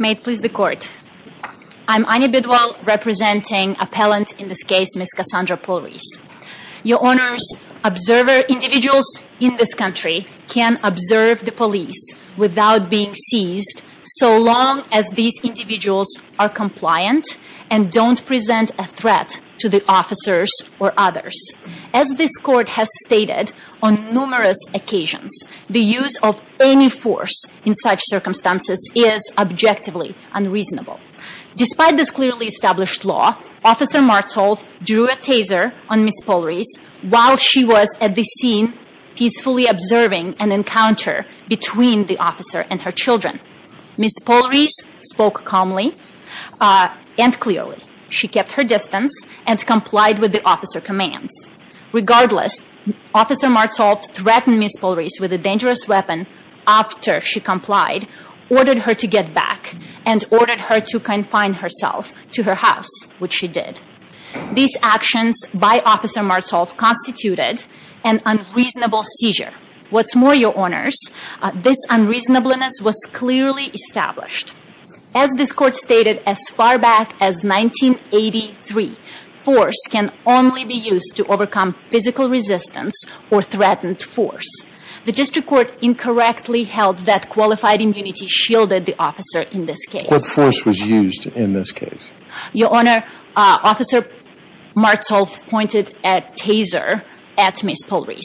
May it please the court. I'm Ani Bidwal, representing appellant in this case, Ms. Cassandra Pollreis. Your Honors, observer individuals in this country can observe the police without being seized so long as these individuals are compliant and don't present a threat to the officers or others. As this court has stated on numerous occasions, the use of any force in such circumstances is objectively unreasonable. Despite this clearly established law, Officer Marzolf drew a taser on Ms. Pollreis while she was at the scene peacefully observing an encounter between the officer and her children. Ms. Pollreis spoke calmly and clearly. She kept her distance and complied with the officer commands. Regardless, Officer Marzolf threatened Ms. Pollreis with a dangerous weapon after she complied, ordered her to get back, and ordered her to confine herself to her house, which she did. These actions by Officer Marzolf constituted an unreasonable seizure. What's more, Your Honors, this unreasonableness was clearly established. As this court stated as far back as 1983, force can only be used to overcome physical resistance or threatened force. The district court incorrectly held that qualified immunity shielded the officer in this case. What force was used in this case? Your Honor, Officer Marzolf pointed a taser at Ms. Pollreis.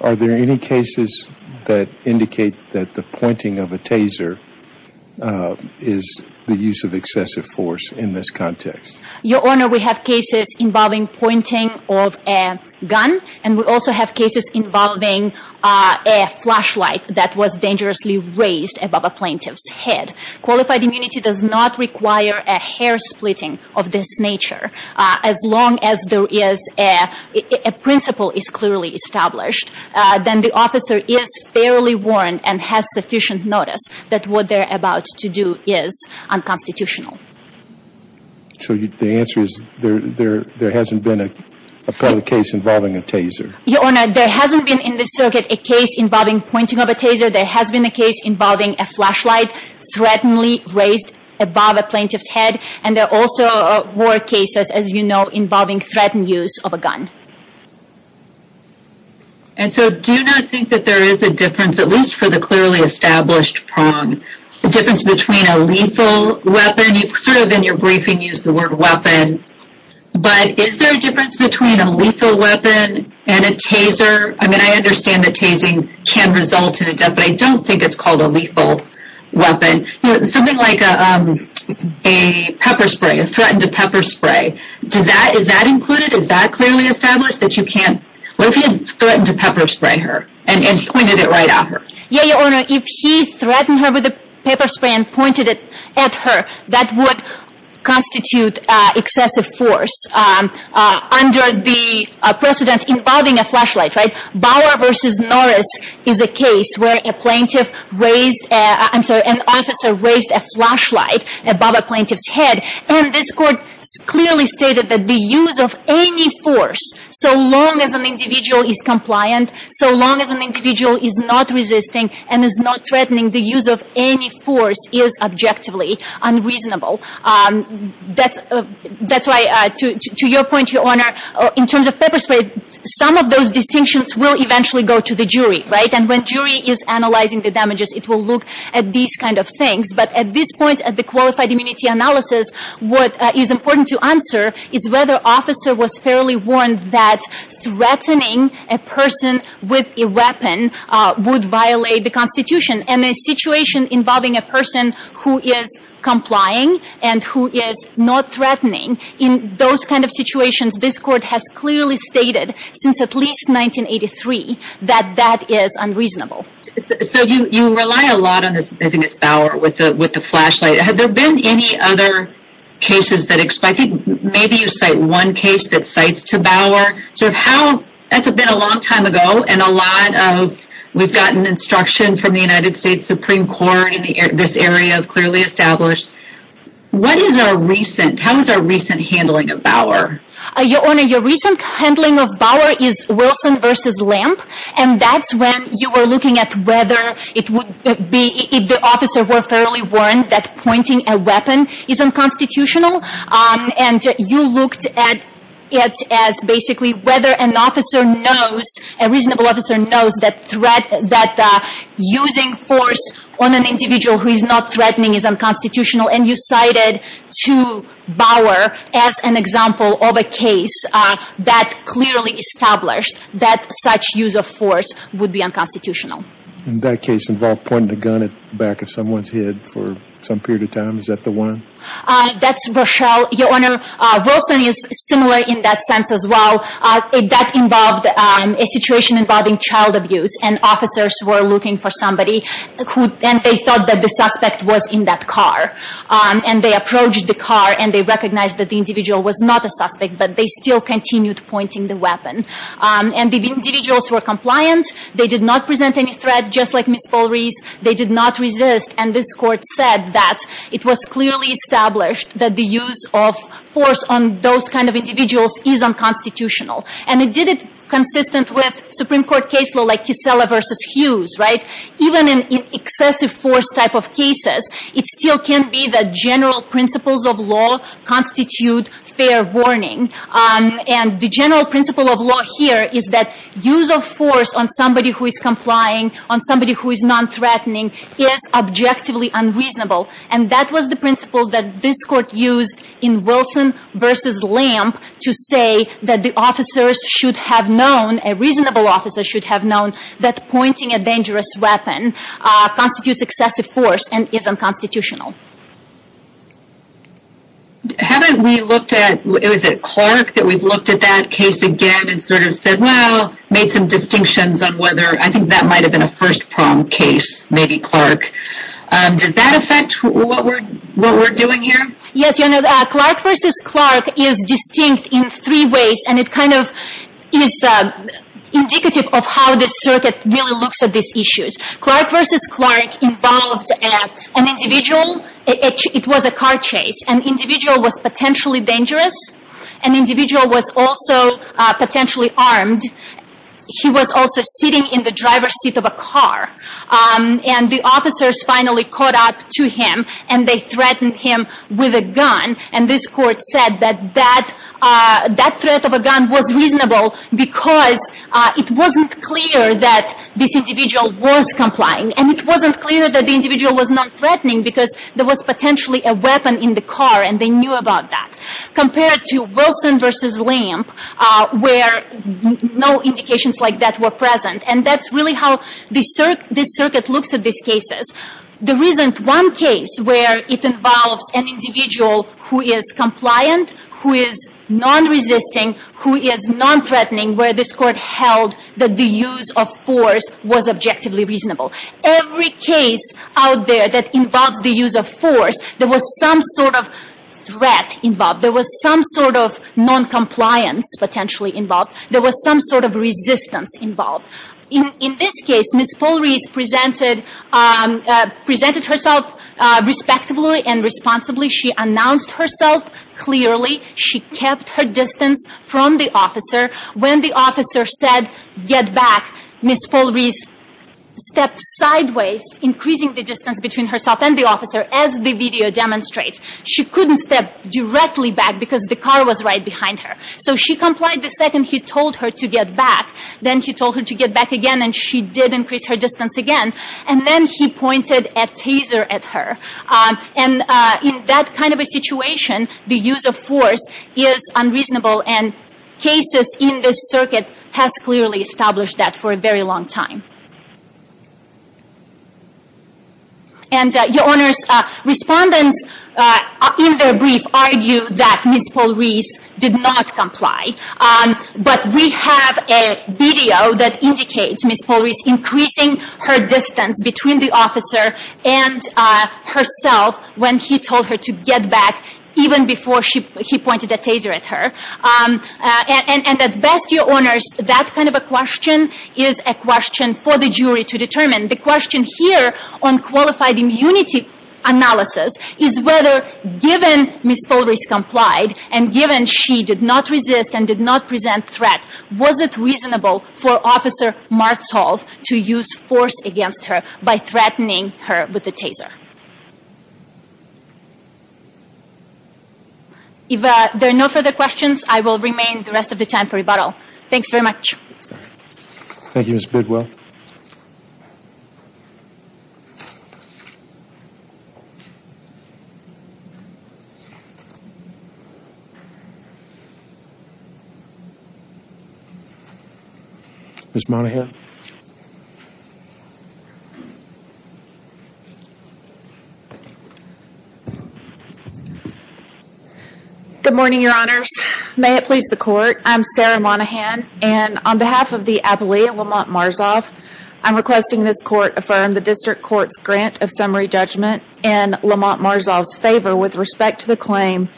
Are there any cases that indicate that the pointing of a gun is the use of excessive force in this context? Your Honor, we have cases involving pointing of a gun and we also have cases involving a flashlight that was dangerously raised above a plaintiff's head. Qualified immunity does not require a hair splitting of this nature. As long as there is a principle is clearly established, then the officer is fairly warned and has sufficient notice that what they're about to do is unconstitutional. So the answer is there hasn't been a case involving a taser? Your Honor, there hasn't been in this circuit a case involving pointing of a taser. There has been a case involving a flashlight, threateningly raised above a plaintiff's head, and there are also war cases, as you know, involving threatened use of a gun. And so do you not think that there is a difference, at least for the clearly established prong, the difference between a lethal weapon, you've sort of in your briefing used the word weapon, but is there a difference between a lethal weapon and a taser? I mean, I understand that tasing can result in a death, but I don't think it's called a lethal weapon. You know, something like a pepper spray, a threatened pepper spray. Does that, is that included? Is that clearly established that you can't, what if he threatened to pepper spray her and pointed it right at her? Yeah, Your Honor, if he threatened her with a pepper spray and pointed it at her, that would constitute excessive force. Under the precedent involving a flashlight, right, Bauer versus Norris is a case where a plaintiff raised, I'm sorry, an officer raised a flashlight above a plaintiff's head, and this court clearly stated that the use of any force, so long as an individual is compliant, so long as an individual is not resisting and is not threatening, the use of any force is objectively unreasonable. That's why, to your point, Your Honor, in terms of pepper spray, some of those distinctions will eventually go to the jury, right? And when jury is analyzing the damages, it will look at these kind of things. But at this point, at the qualified immunity analysis, what is important to answer is whether officer was fairly warned that threatening a person with a weapon would violate the Constitution. And a situation involving a person who is complying and who is not threatening, in those kind of situations, this court has clearly stated, since at least 1983, that that is unreasonable. So you rely a lot on this, I think it's Bauer, with the flashlight. Have there been any other cases that, I think maybe you cite one case that cites to Bauer, sort of how, that's been a long time ago, and a lot of, we've gotten instruction from the United States Supreme Court in this area, clearly established. What is our recent, how is our recent handling of Bauer? Your Honor, your recent handling of Bauer is Wilson v. Lamp, and that's when you were looking at whether it would be, if the officer were fairly warned that pointing a weapon is unconstitutional. And you looked at it as basically whether an officer knows, a reasonable officer knows that threat, that using force on an individual who is not threatening is unconstitutional. And you cited to Bauer as an example of a case that clearly established that such use of force would be unconstitutional. In that case involved pointing a gun at the back of someone's head for some period of time, is that the one? That's Rochelle. Your Honor, Wilson is similar in that sense as well. That involved a situation involving child abuse, and officers were looking for somebody who, and they thought that the suspect was in that car. And they approached the car, and they recognized that the individual was not a suspect, but they still continued pointing the weapon. And the individuals were not under any threat, just like Ms. Paul-Reese. They did not resist, and this Court said that it was clearly established that the use of force on those kind of individuals is unconstitutional. And it did it consistent with Supreme Court case law like Kissela v. Hughes, right? Even in excessive force type of cases, it still can be that general principles of law constitute fair warning. And the general principle of law here is that use of force on somebody who is complying, on somebody who is non-threatening, is objectively unreasonable. And that was the principle that this Court used in Wilson v. Lamp to say that the officers should have known, a reasonable officer should have known, that pointing a dangerous weapon constitutes excessive force and is unconstitutional. Haven't we looked at, was it Clark that we've looked at that case again and sort of said, well, made some distinctions on whether, I think that might have been a first-prong case, maybe Clark. Does that affect what we're doing here? Yes, you know, Clark v. Clark is distinct in three ways, and it kind of is indicative of how the circuit really looks at these issues. Clark v. Clark involved an individual, it was a car chase. An individual was potentially armed. He was also sitting in the driver's seat of a car. And the officers finally caught up to him, and they threatened him with a gun. And this Court said that that threat of a gun was reasonable because it wasn't clear that this individual was complying. And it wasn't clear that the individual was non-threatening because there was potentially a weapon in the car, and they no indications like that were present. And that's really how this circuit looks at these cases. There isn't one case where it involves an individual who is compliant, who is non-resisting, who is non-threatening, where this Court held that the use of force was objectively reasonable. Every case out there that involves the use of force, there was some sort of threat involved. There was some sort of non-compliance potentially involved. There was some sort of resistance involved. In this case, Ms. Paul Rees presented herself respectfully and responsibly. She announced herself clearly. She kept her distance from the officer. When the officer said, get back, Ms. Paul Rees stepped sideways, increasing the distance between herself and the officer, as the video So she complied the second he told her to get back. Then he told her to get back again, and she did increase her distance again. And then he pointed a taser at her. And in that kind of a situation, the use of force is unreasonable. And cases in this circuit has clearly established that for a very long time. And, Your Honors, respondents in their brief argue that Ms. Paul Rees did not comply. But we have a video that indicates Ms. Paul Rees increasing her distance between the officer and herself when he told her to get back, even before he pointed a taser at her. And at best, Your Honors, that kind of a question for the jury to determine. The question here on qualified immunity analysis is whether, given Ms. Paul Rees complied, and given she did not resist and did not present threat, was it reasonable for Officer Martzhoff to use force against her by threatening her with the taser? If there are no further questions, I will remain the rest of the time for rebuttal. Thanks very much. Thank you, Ms. Bidwell. Ms. Monahan. Good morning, Your Honors. May it please the Court, I'm Sarah Monahan. And on behalf of the appellee, Lamont Martzhoff, I'm requesting this Court affirm the District Court's grant of summary judgment in Lamont Martzhoff's favor with respect to the claim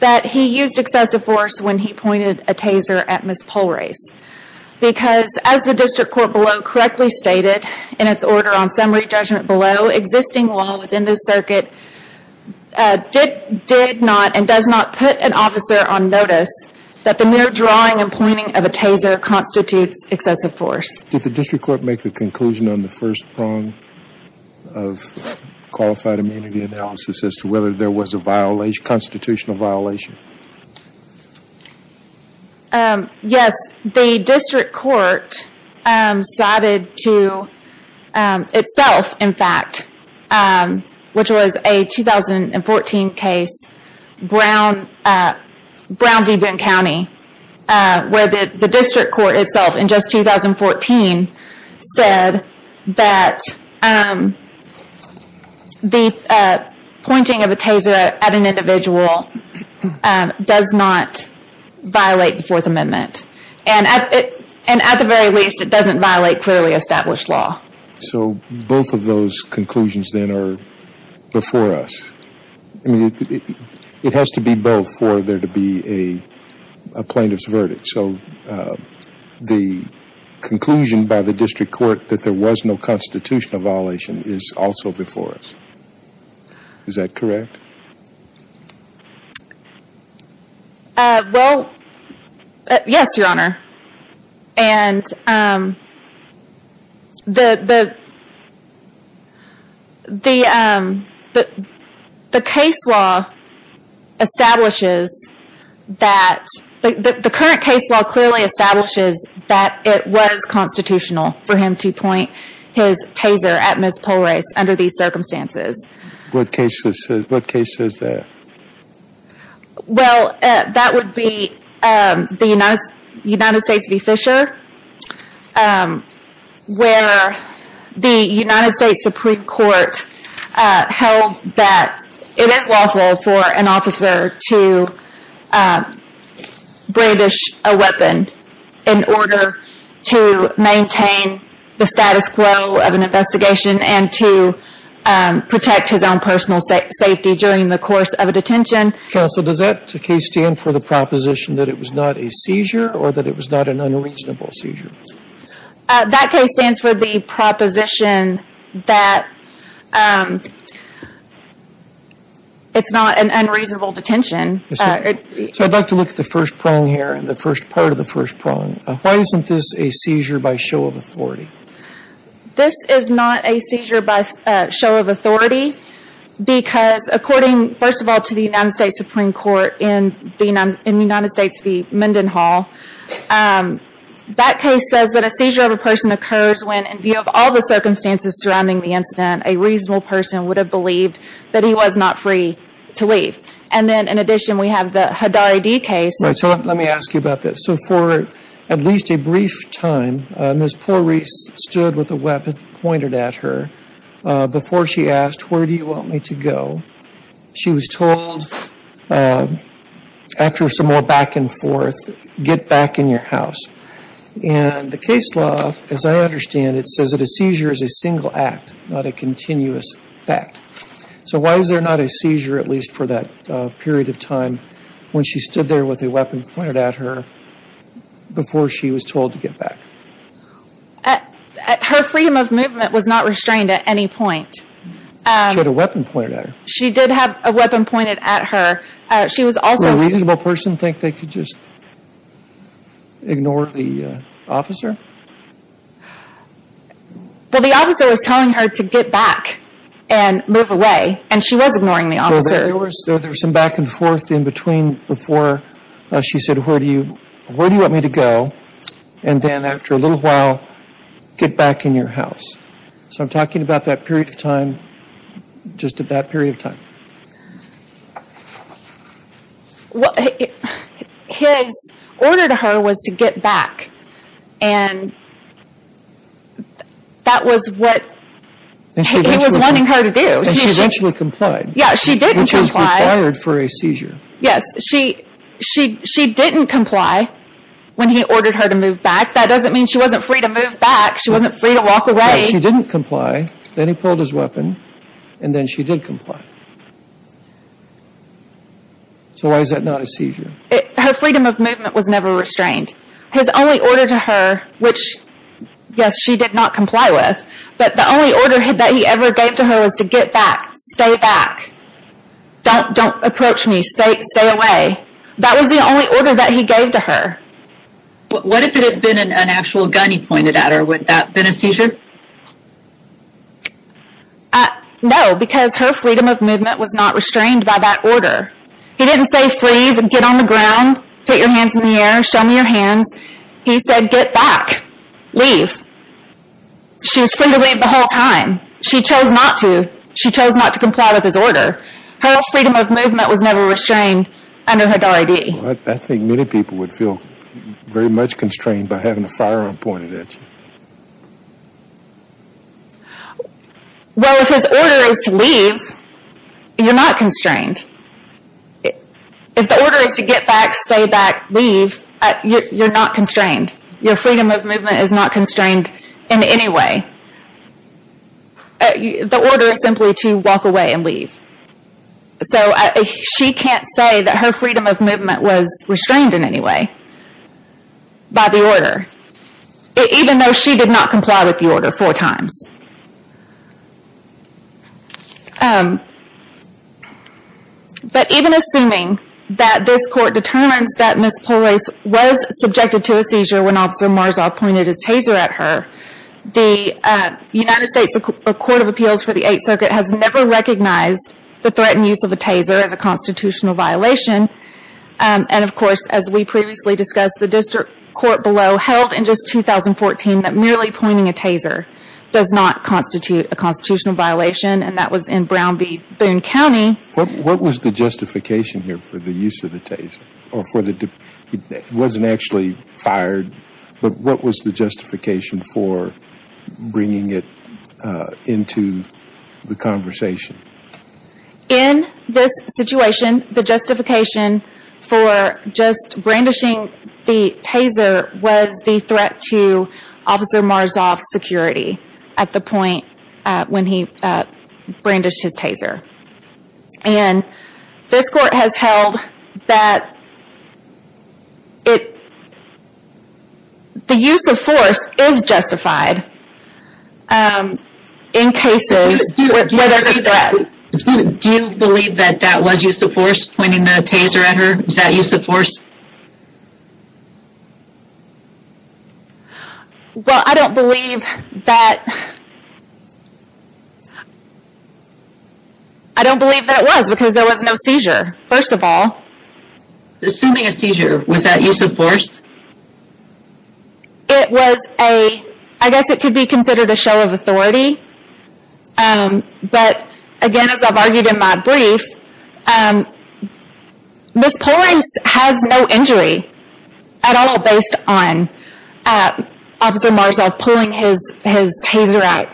that he used excessive force when he pointed a taser at Ms. Paul Rees. Because, as the District Court below correctly stated in its order on summary judgment below, existing law within this circuit did not and does not put an officer on notice that the mere drawing and pointing of a taser constitutes excessive force. Did the District Court make a conclusion on the first prong of qualified immunity analysis as to whether there was a constitutional violation? Yes. The District Court cited to itself, in fact, which was a 2014 case, Brown v. Boone County, where the District Court itself in just 2014 said that the pointing of a taser at an individual does not violate the Fourth Amendment. And at the very least, it doesn't violate clearly established law. So both of those conclusions then are before us. I mean, it has to be both for there to be a plaintiff's verdict. So the conclusion by the District Court that there was no constitutional violation is also before us. Is that correct? Well, yes, Your Honor. And the case law establishes that, the current case law clearly establishes that it was constitutional for him to point his taser at Ms. Paul Rees under these circumstances. What case is that? Well, that would be the United States v. Fisher, where the United States Supreme Court held that it is lawful for an officer to brandish a weapon in order to protect his own personal safety during the course of a detention. Counsel, does that case stand for the proposition that it was not a seizure or that it was not an unreasonable seizure? That case stands for the proposition that it's not an unreasonable detention. So I'd like to look at the first prong here and the first part of the first prong. Why isn't this a seizure by show of authority? This is not a seizure by show of authority because, according, first of all, to the United States Supreme Court in the United States v. Mendenhall, that case says that a seizure of a person occurs when, in view of all the circumstances surrounding the incident, a reasonable person would have believed that he was not free to leave. And then, in addition, we have the Haddari D case. Right, so let me ask you about this. So for at least a brief time, Ms. Porree stood with a weapon pointed at her before she asked, where do you want me to go? She was told, after some more back and forth, get back in your house. And the case law, as I understand it, says that a seizure is a single act, not a continuous fact. So why is there not a seizure, at least for that period of time, when she stood there with a weapon pointed at her before she was told to get back? Her freedom of movement was not restrained at any point. She had a weapon pointed at her. She did have a weapon pointed at her. Did a reasonable person think they could just ignore the officer? Well, the officer was telling her to get back and move away, and she was ignoring the officer. There was some back and forth in between before she said, where do you want me to go? And then, after a little while, get back in your house. So I'm talking about that period of time, just at that period of time. His order to her was to get back, and that was what he was wanting her to do. And she eventually complied. Yeah, she didn't comply. Which is required for a seizure. Yes, she didn't comply when he ordered her to move back. That doesn't mean she wasn't free to move back. She wasn't free to walk away. She didn't comply. Then he pulled his weapon, and then she did comply. So why is that not a seizure? Her freedom of movement was never restrained. His only order to her, which, yes, she did not comply with, but the only order that he ever gave to her was to get back, stay back, don't approach me, stay away. That was the only order that he gave to her. What if it had been an actual gun he pointed at her? Would that have been a seizure? No, because her freedom of movement was not restrained by that order. He didn't say, freeze, get on the ground, put your hands in the air, show me your hands. He said, get back, leave. She was free to leave the whole time. She chose not to. She chose not to comply with his order. Her freedom of movement was never restrained under HADAR-ID. I think many people would feel very much constrained by having a firearm pointed at you. Well, if his order is to leave, you're not constrained. If the order is to get back, stay back, leave, you're not constrained. Your freedom of movement is not constrained in any way. The order is simply to walk away and leave. She can't say that her freedom of movement was restrained in any way by the order, even though she did not comply with the order four times. But even assuming that this court determines that Ms. Polrace was subjected to a seizure when Officer Marzov pointed his taser at her, the United States Court of Appeals for the Eighth Circuit has never recognized the threat and use of a taser as a constitutional violation. And, of course, as we previously discussed, the district court below held in just 2014 that merely pointing a taser does not constitute a constitutional violation, and that was in Brown v. Boone County. What was the justification here for the use of the taser? It wasn't actually fired, but what was the justification for bringing it into the conversation? In this situation, the justification for just brandishing the taser was the threat to Officer Marzov's security at the point when he brandished his taser. And this court has held that the use of force is justified in cases where there's a threat. Do you believe that that was use of force, pointing the taser at her? Was that use of force? Well, I don't believe that... I don't believe that it was, because there was no seizure, first of all. Assuming a seizure, was that use of force? It was a... I guess it could be considered a show of authority, but again, as I've argued in my brief, this police has no injury at all based on Officer Marzov pulling his taser out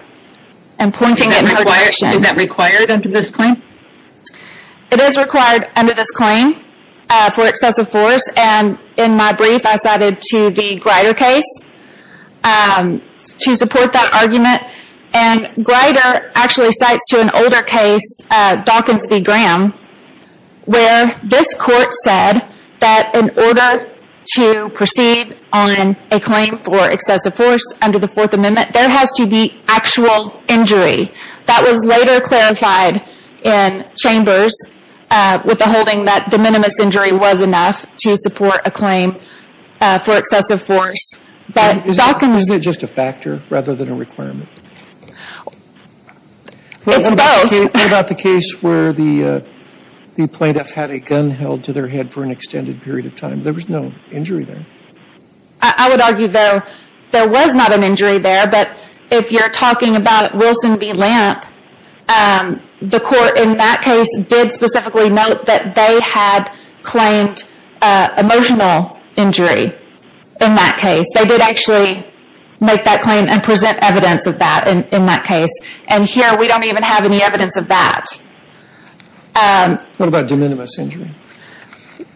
and pointing it in her direction. Is that required under this claim? It is required under this claim for excessive force, and in my brief, I cited to the Grider case to support that argument. Grider actually cites to an older case, Dawkins v. Graham, where this court said that in order to proceed on a claim for excessive force under the Fourth Amendment, there has to be actual injury. That was later clarified in Chambers with the holding that for excessive force. It's both. What about the case where the plaintiff had a gun held to their head for an extended period of time? There was no injury there. I would argue, though, there was not an injury there, but if you're talking about Wilson v. Lamp, the court in that case did specifically note that they had claimed emotional injury in that case. They did actually make that claim and present evidence of that in that case. Here, we don't even have any evidence of that. What about de minimis injury?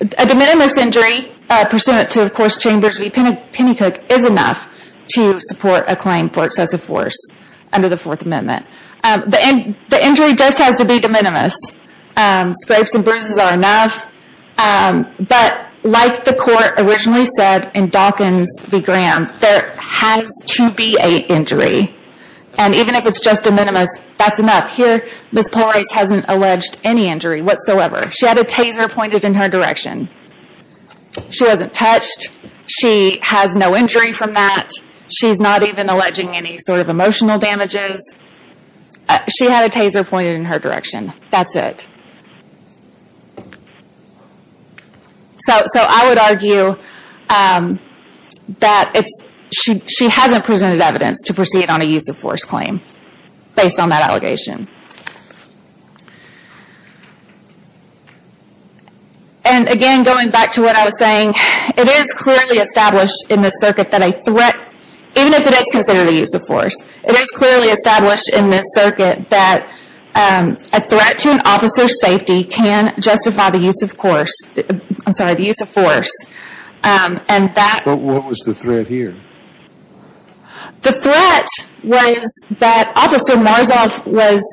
A de minimis injury pursuant to, of course, Chambers v. Pennycook is enough to support a claim for excessive force under the Fourth Amendment. The injury just has to be de minimis. Scrapes and bruises are enough, but like the court originally said in Dawkins v. Graham, there has to be an injury, and even if it's just de minimis, that's enough. Here, Ms. Polrice hasn't alleged any injury whatsoever. She had a taser pointed in her direction. She wasn't touched. She has no injury from that. She's not even alleging any sort of emotional damages. She had a taser pointed in her direction. That's it. I would argue that she hasn't presented evidence to proceed on a use of force claim based on that allegation. Again, going back to what I was saying, it is clearly established in this circuit that a threat, even if it is considered a use of force, it is clearly established in this circuit that a threat to an officer's safety can justify the use of force. What was the threat here? The threat was that Officer Marzov was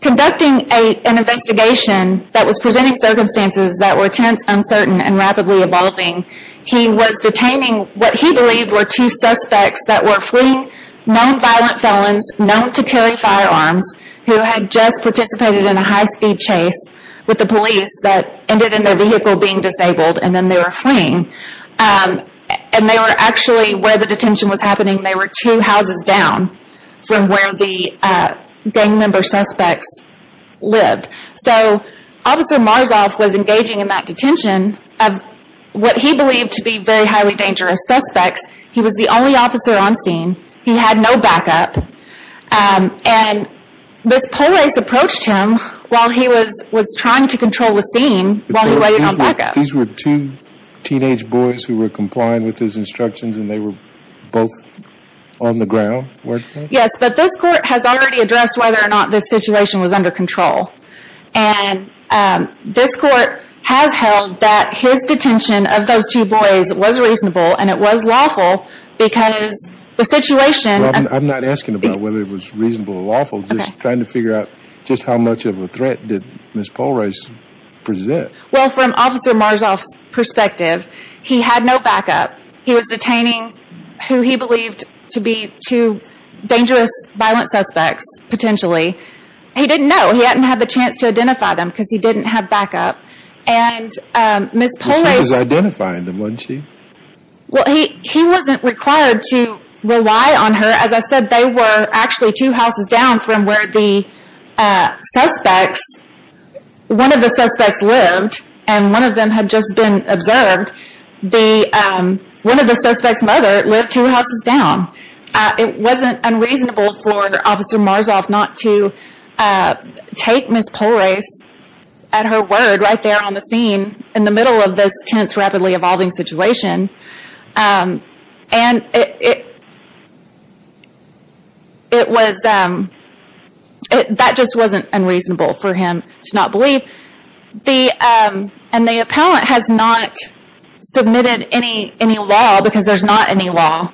conducting an investigation that was presenting circumstances that were tense, uncertain, and rapidly evolving. He was detaining what he believed were two suspects that were fleeing known violent felons, known to carry firearms, who had just participated in a high speed chase with the police that ended in their vehicle being disabled and then they were fleeing. They were actually, where the detention was happening, they were two houses down from where the gang member suspects lived. Officer Marzov was engaging in that detention of what he believed to be very highly dangerous suspects. He was the only officer on scene. He had no backup. This police approached him while he was trying to control the scene while he waited on backup. These were two teenage boys who were complying with his instructions and they were both on the ground? Yes, but this court has already addressed whether or not this situation was under control. This court has held that his detention of those two boys was reasonable and it was lawful because the situation... I'm not asking about whether it was reasonable or lawful. I'm just trying to figure out just how much of a threat did Ms. Polrice present? Well, from Officer Marzov's perspective, he had no backup. He was detaining who he believed to be two and he didn't have the chance to identify them because he didn't have backup. He was identifying them, wasn't he? Well, he wasn't required to rely on her. As I said, they were actually two houses down from where the suspects, one of the suspects lived and one of them had just been observed. One of the suspects' mother lived two houses down. It wasn't unreasonable for Officer Marzov not to take Ms. Polrice at her word right there on the scene in the middle of this tense, rapidly evolving situation. That just wasn't unreasonable for him to not believe. The law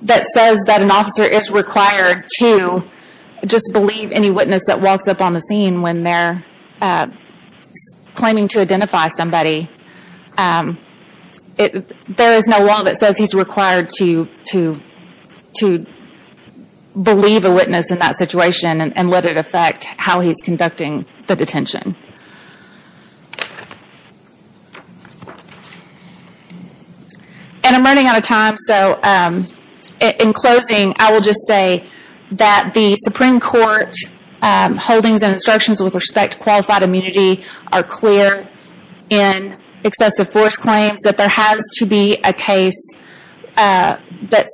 that says that an officer is required to just believe any witness that walks up on the scene when they're claiming to identify somebody, there is no law that says he's required to believe a witness in that situation and let it affect how he's conducting the detention. I'm running out of time. In closing, I will just say that the Supreme Court holdings and instructions with respect to qualified immunity are clear in excessive force claims that there has to be a case that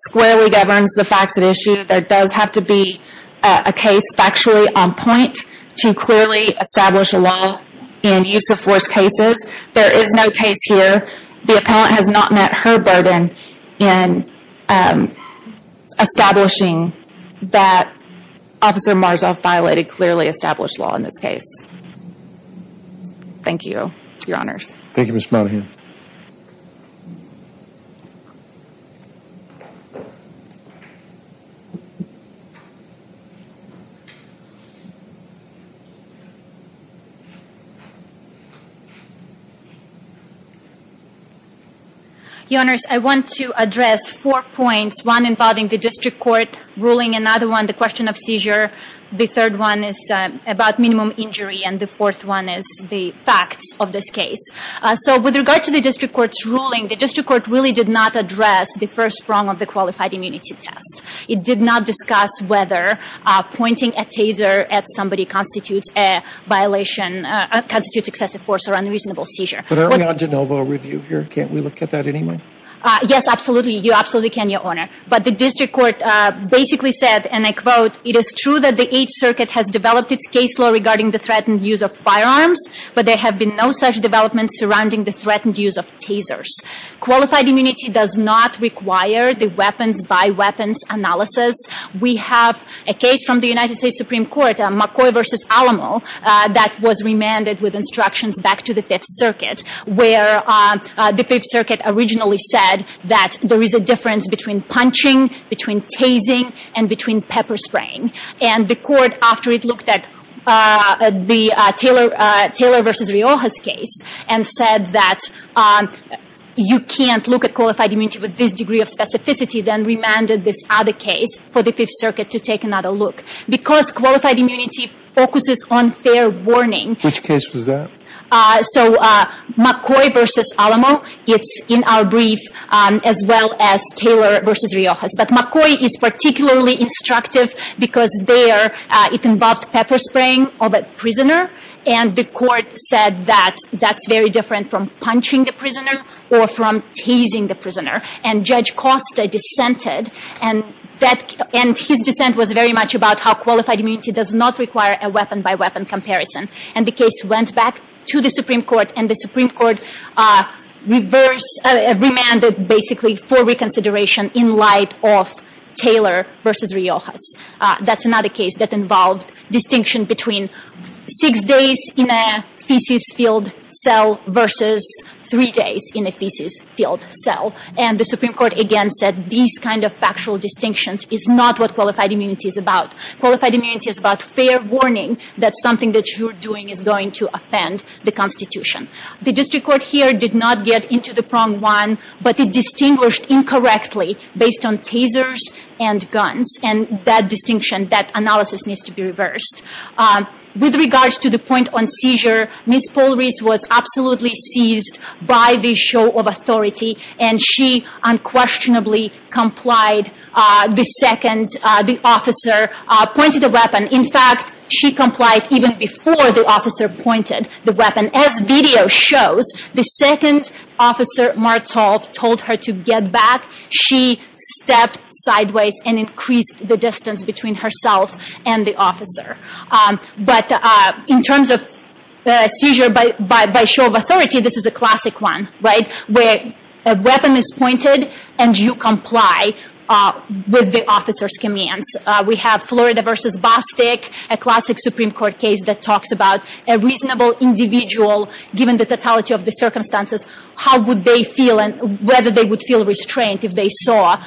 squarely governs the facts at issue. There does not have to be a case factually on point to clearly establish a law in use of force cases. There is no case here. The appellant has not met her burden in establishing that Officer Marzov violated clearly established law in this case. Thank you, Your Honors. Thank you, Ms. Monahan. Your Honors, I want to address four points, one involving the district court ruling, another one the question of seizure, the third one is about minimum injury, and the fourth one is the facts of this case. With regard to the district court's ruling, the district court really did not address the first prong of the qualified immunity test. It did not discuss whether pointing a taser at somebody constitutes a violation, constitutes excessive force or unreasonable seizure. But aren't we on de novo review here? Can't we look at that anyway? Yes, absolutely. You absolutely can, Your Honor. But the district court basically said, and I quote, it is true that the Eighth Circuit has developed its case law regarding the threatened use of firearms, but there have been no such developments surrounding the threatened use of tasers. Qualified immunity does not require the weapons by weapons analysis. We have a case from the United States Supreme Court, McCoy v. Alamo, that was remanded with instructions back to the Fifth Circuit, where the Fifth Circuit originally said that there is a difference between punching, between tasing, and between pepper spraying. And the court, after it looked at the Taylor v. Riojas case and said that you can't look at qualified immunity with this degree of specificity, then remanded this other case for the Fifth Circuit to take another look. Because qualified immunity focuses on fair warning. Which case was that? So McCoy v. Alamo, it's in our brief, as well as Taylor v. Riojas. But McCoy is particularly instructive because it involved pepper spraying of a prisoner, and the court said that that's very different from punching the prisoner or from tasing the prisoner. And Judge Costa dissented, and his dissent was very much about how qualified immunity does not require a weapon by weapon comparison. And the case went back to the Supreme Court, remanded basically for reconsideration in light of Taylor v. Riojas. That's another case that involved distinction between six days in a feces-filled cell versus three days in a feces-filled cell. And the Supreme Court again said these kind of factual distinctions is not what qualified immunity is about. Qualified immunity is about fair warning that something that you're doing is going to offend the Constitution. The district court here did not get into the prong one, but it distinguished incorrectly based on tasers and guns. And that distinction, that analysis needs to be reversed. With regards to the point on seizure, Ms. Polris was absolutely seized by this show of authority, and she unquestionably complied the second the officer pointed the weapon. In fact, she complied even before the officer pointed the weapon. As video shows, the second officer, Martzoff, told her to get back. She stepped sideways and increased the distance between herself and the officer. But in terms of seizure by show of authority, this is a classic one, where a weapon is pointed and you comply with the officer's commands. We have Florida v. Bostic, a classic Supreme Court case that talks about a reasonable individual, given the totality of the circumstances, how would they feel and whether they would feel restraint if they saw an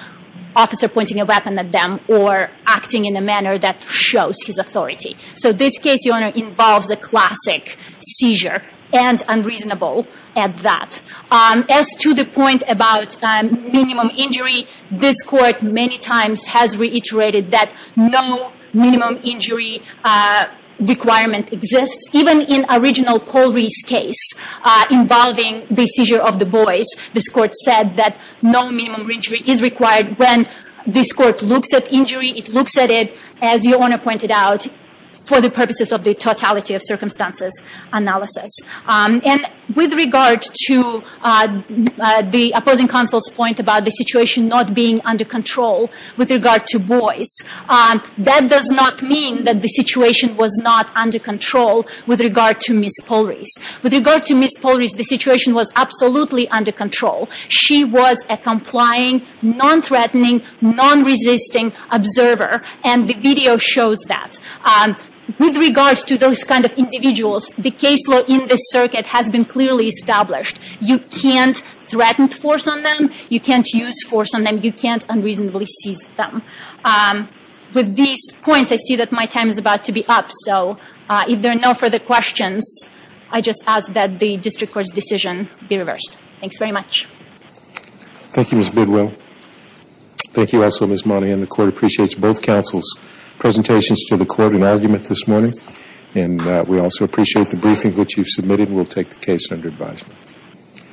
officer pointing a weapon at them or acting in a manner that shows his authority. So this case, Your Honor, involves a classic seizure and unreasonable at that. As to the point about minimum injury, this Court many times has reiterated that no minimum injury requirement exists. Even in original Polris case involving the seizure of the boys, this Court said that no minimum injury is required. When this is for the purposes of the totality of circumstances analysis. With regard to the opposing counsel's point about the situation not being under control with regard to boys, that does not mean that the situation was not under control with regard to Ms. Polris. With regard to Ms. Polris, the situation was absolutely under control. She was a complying, non-threatening, non-resisting observer. And the video shows that. With regard to those kind of individuals, the case law in this circuit has been clearly established. You can't threaten force on them. You can't use force on them. You can't unreasonably seize them. With these points, I see that my time is about to be up. So if there are no further questions, I just ask that the Court appreciates both counsel's presentations to the Court and argument this morning. And we also appreciate the briefing which you've submitted. We'll take the case under advisement.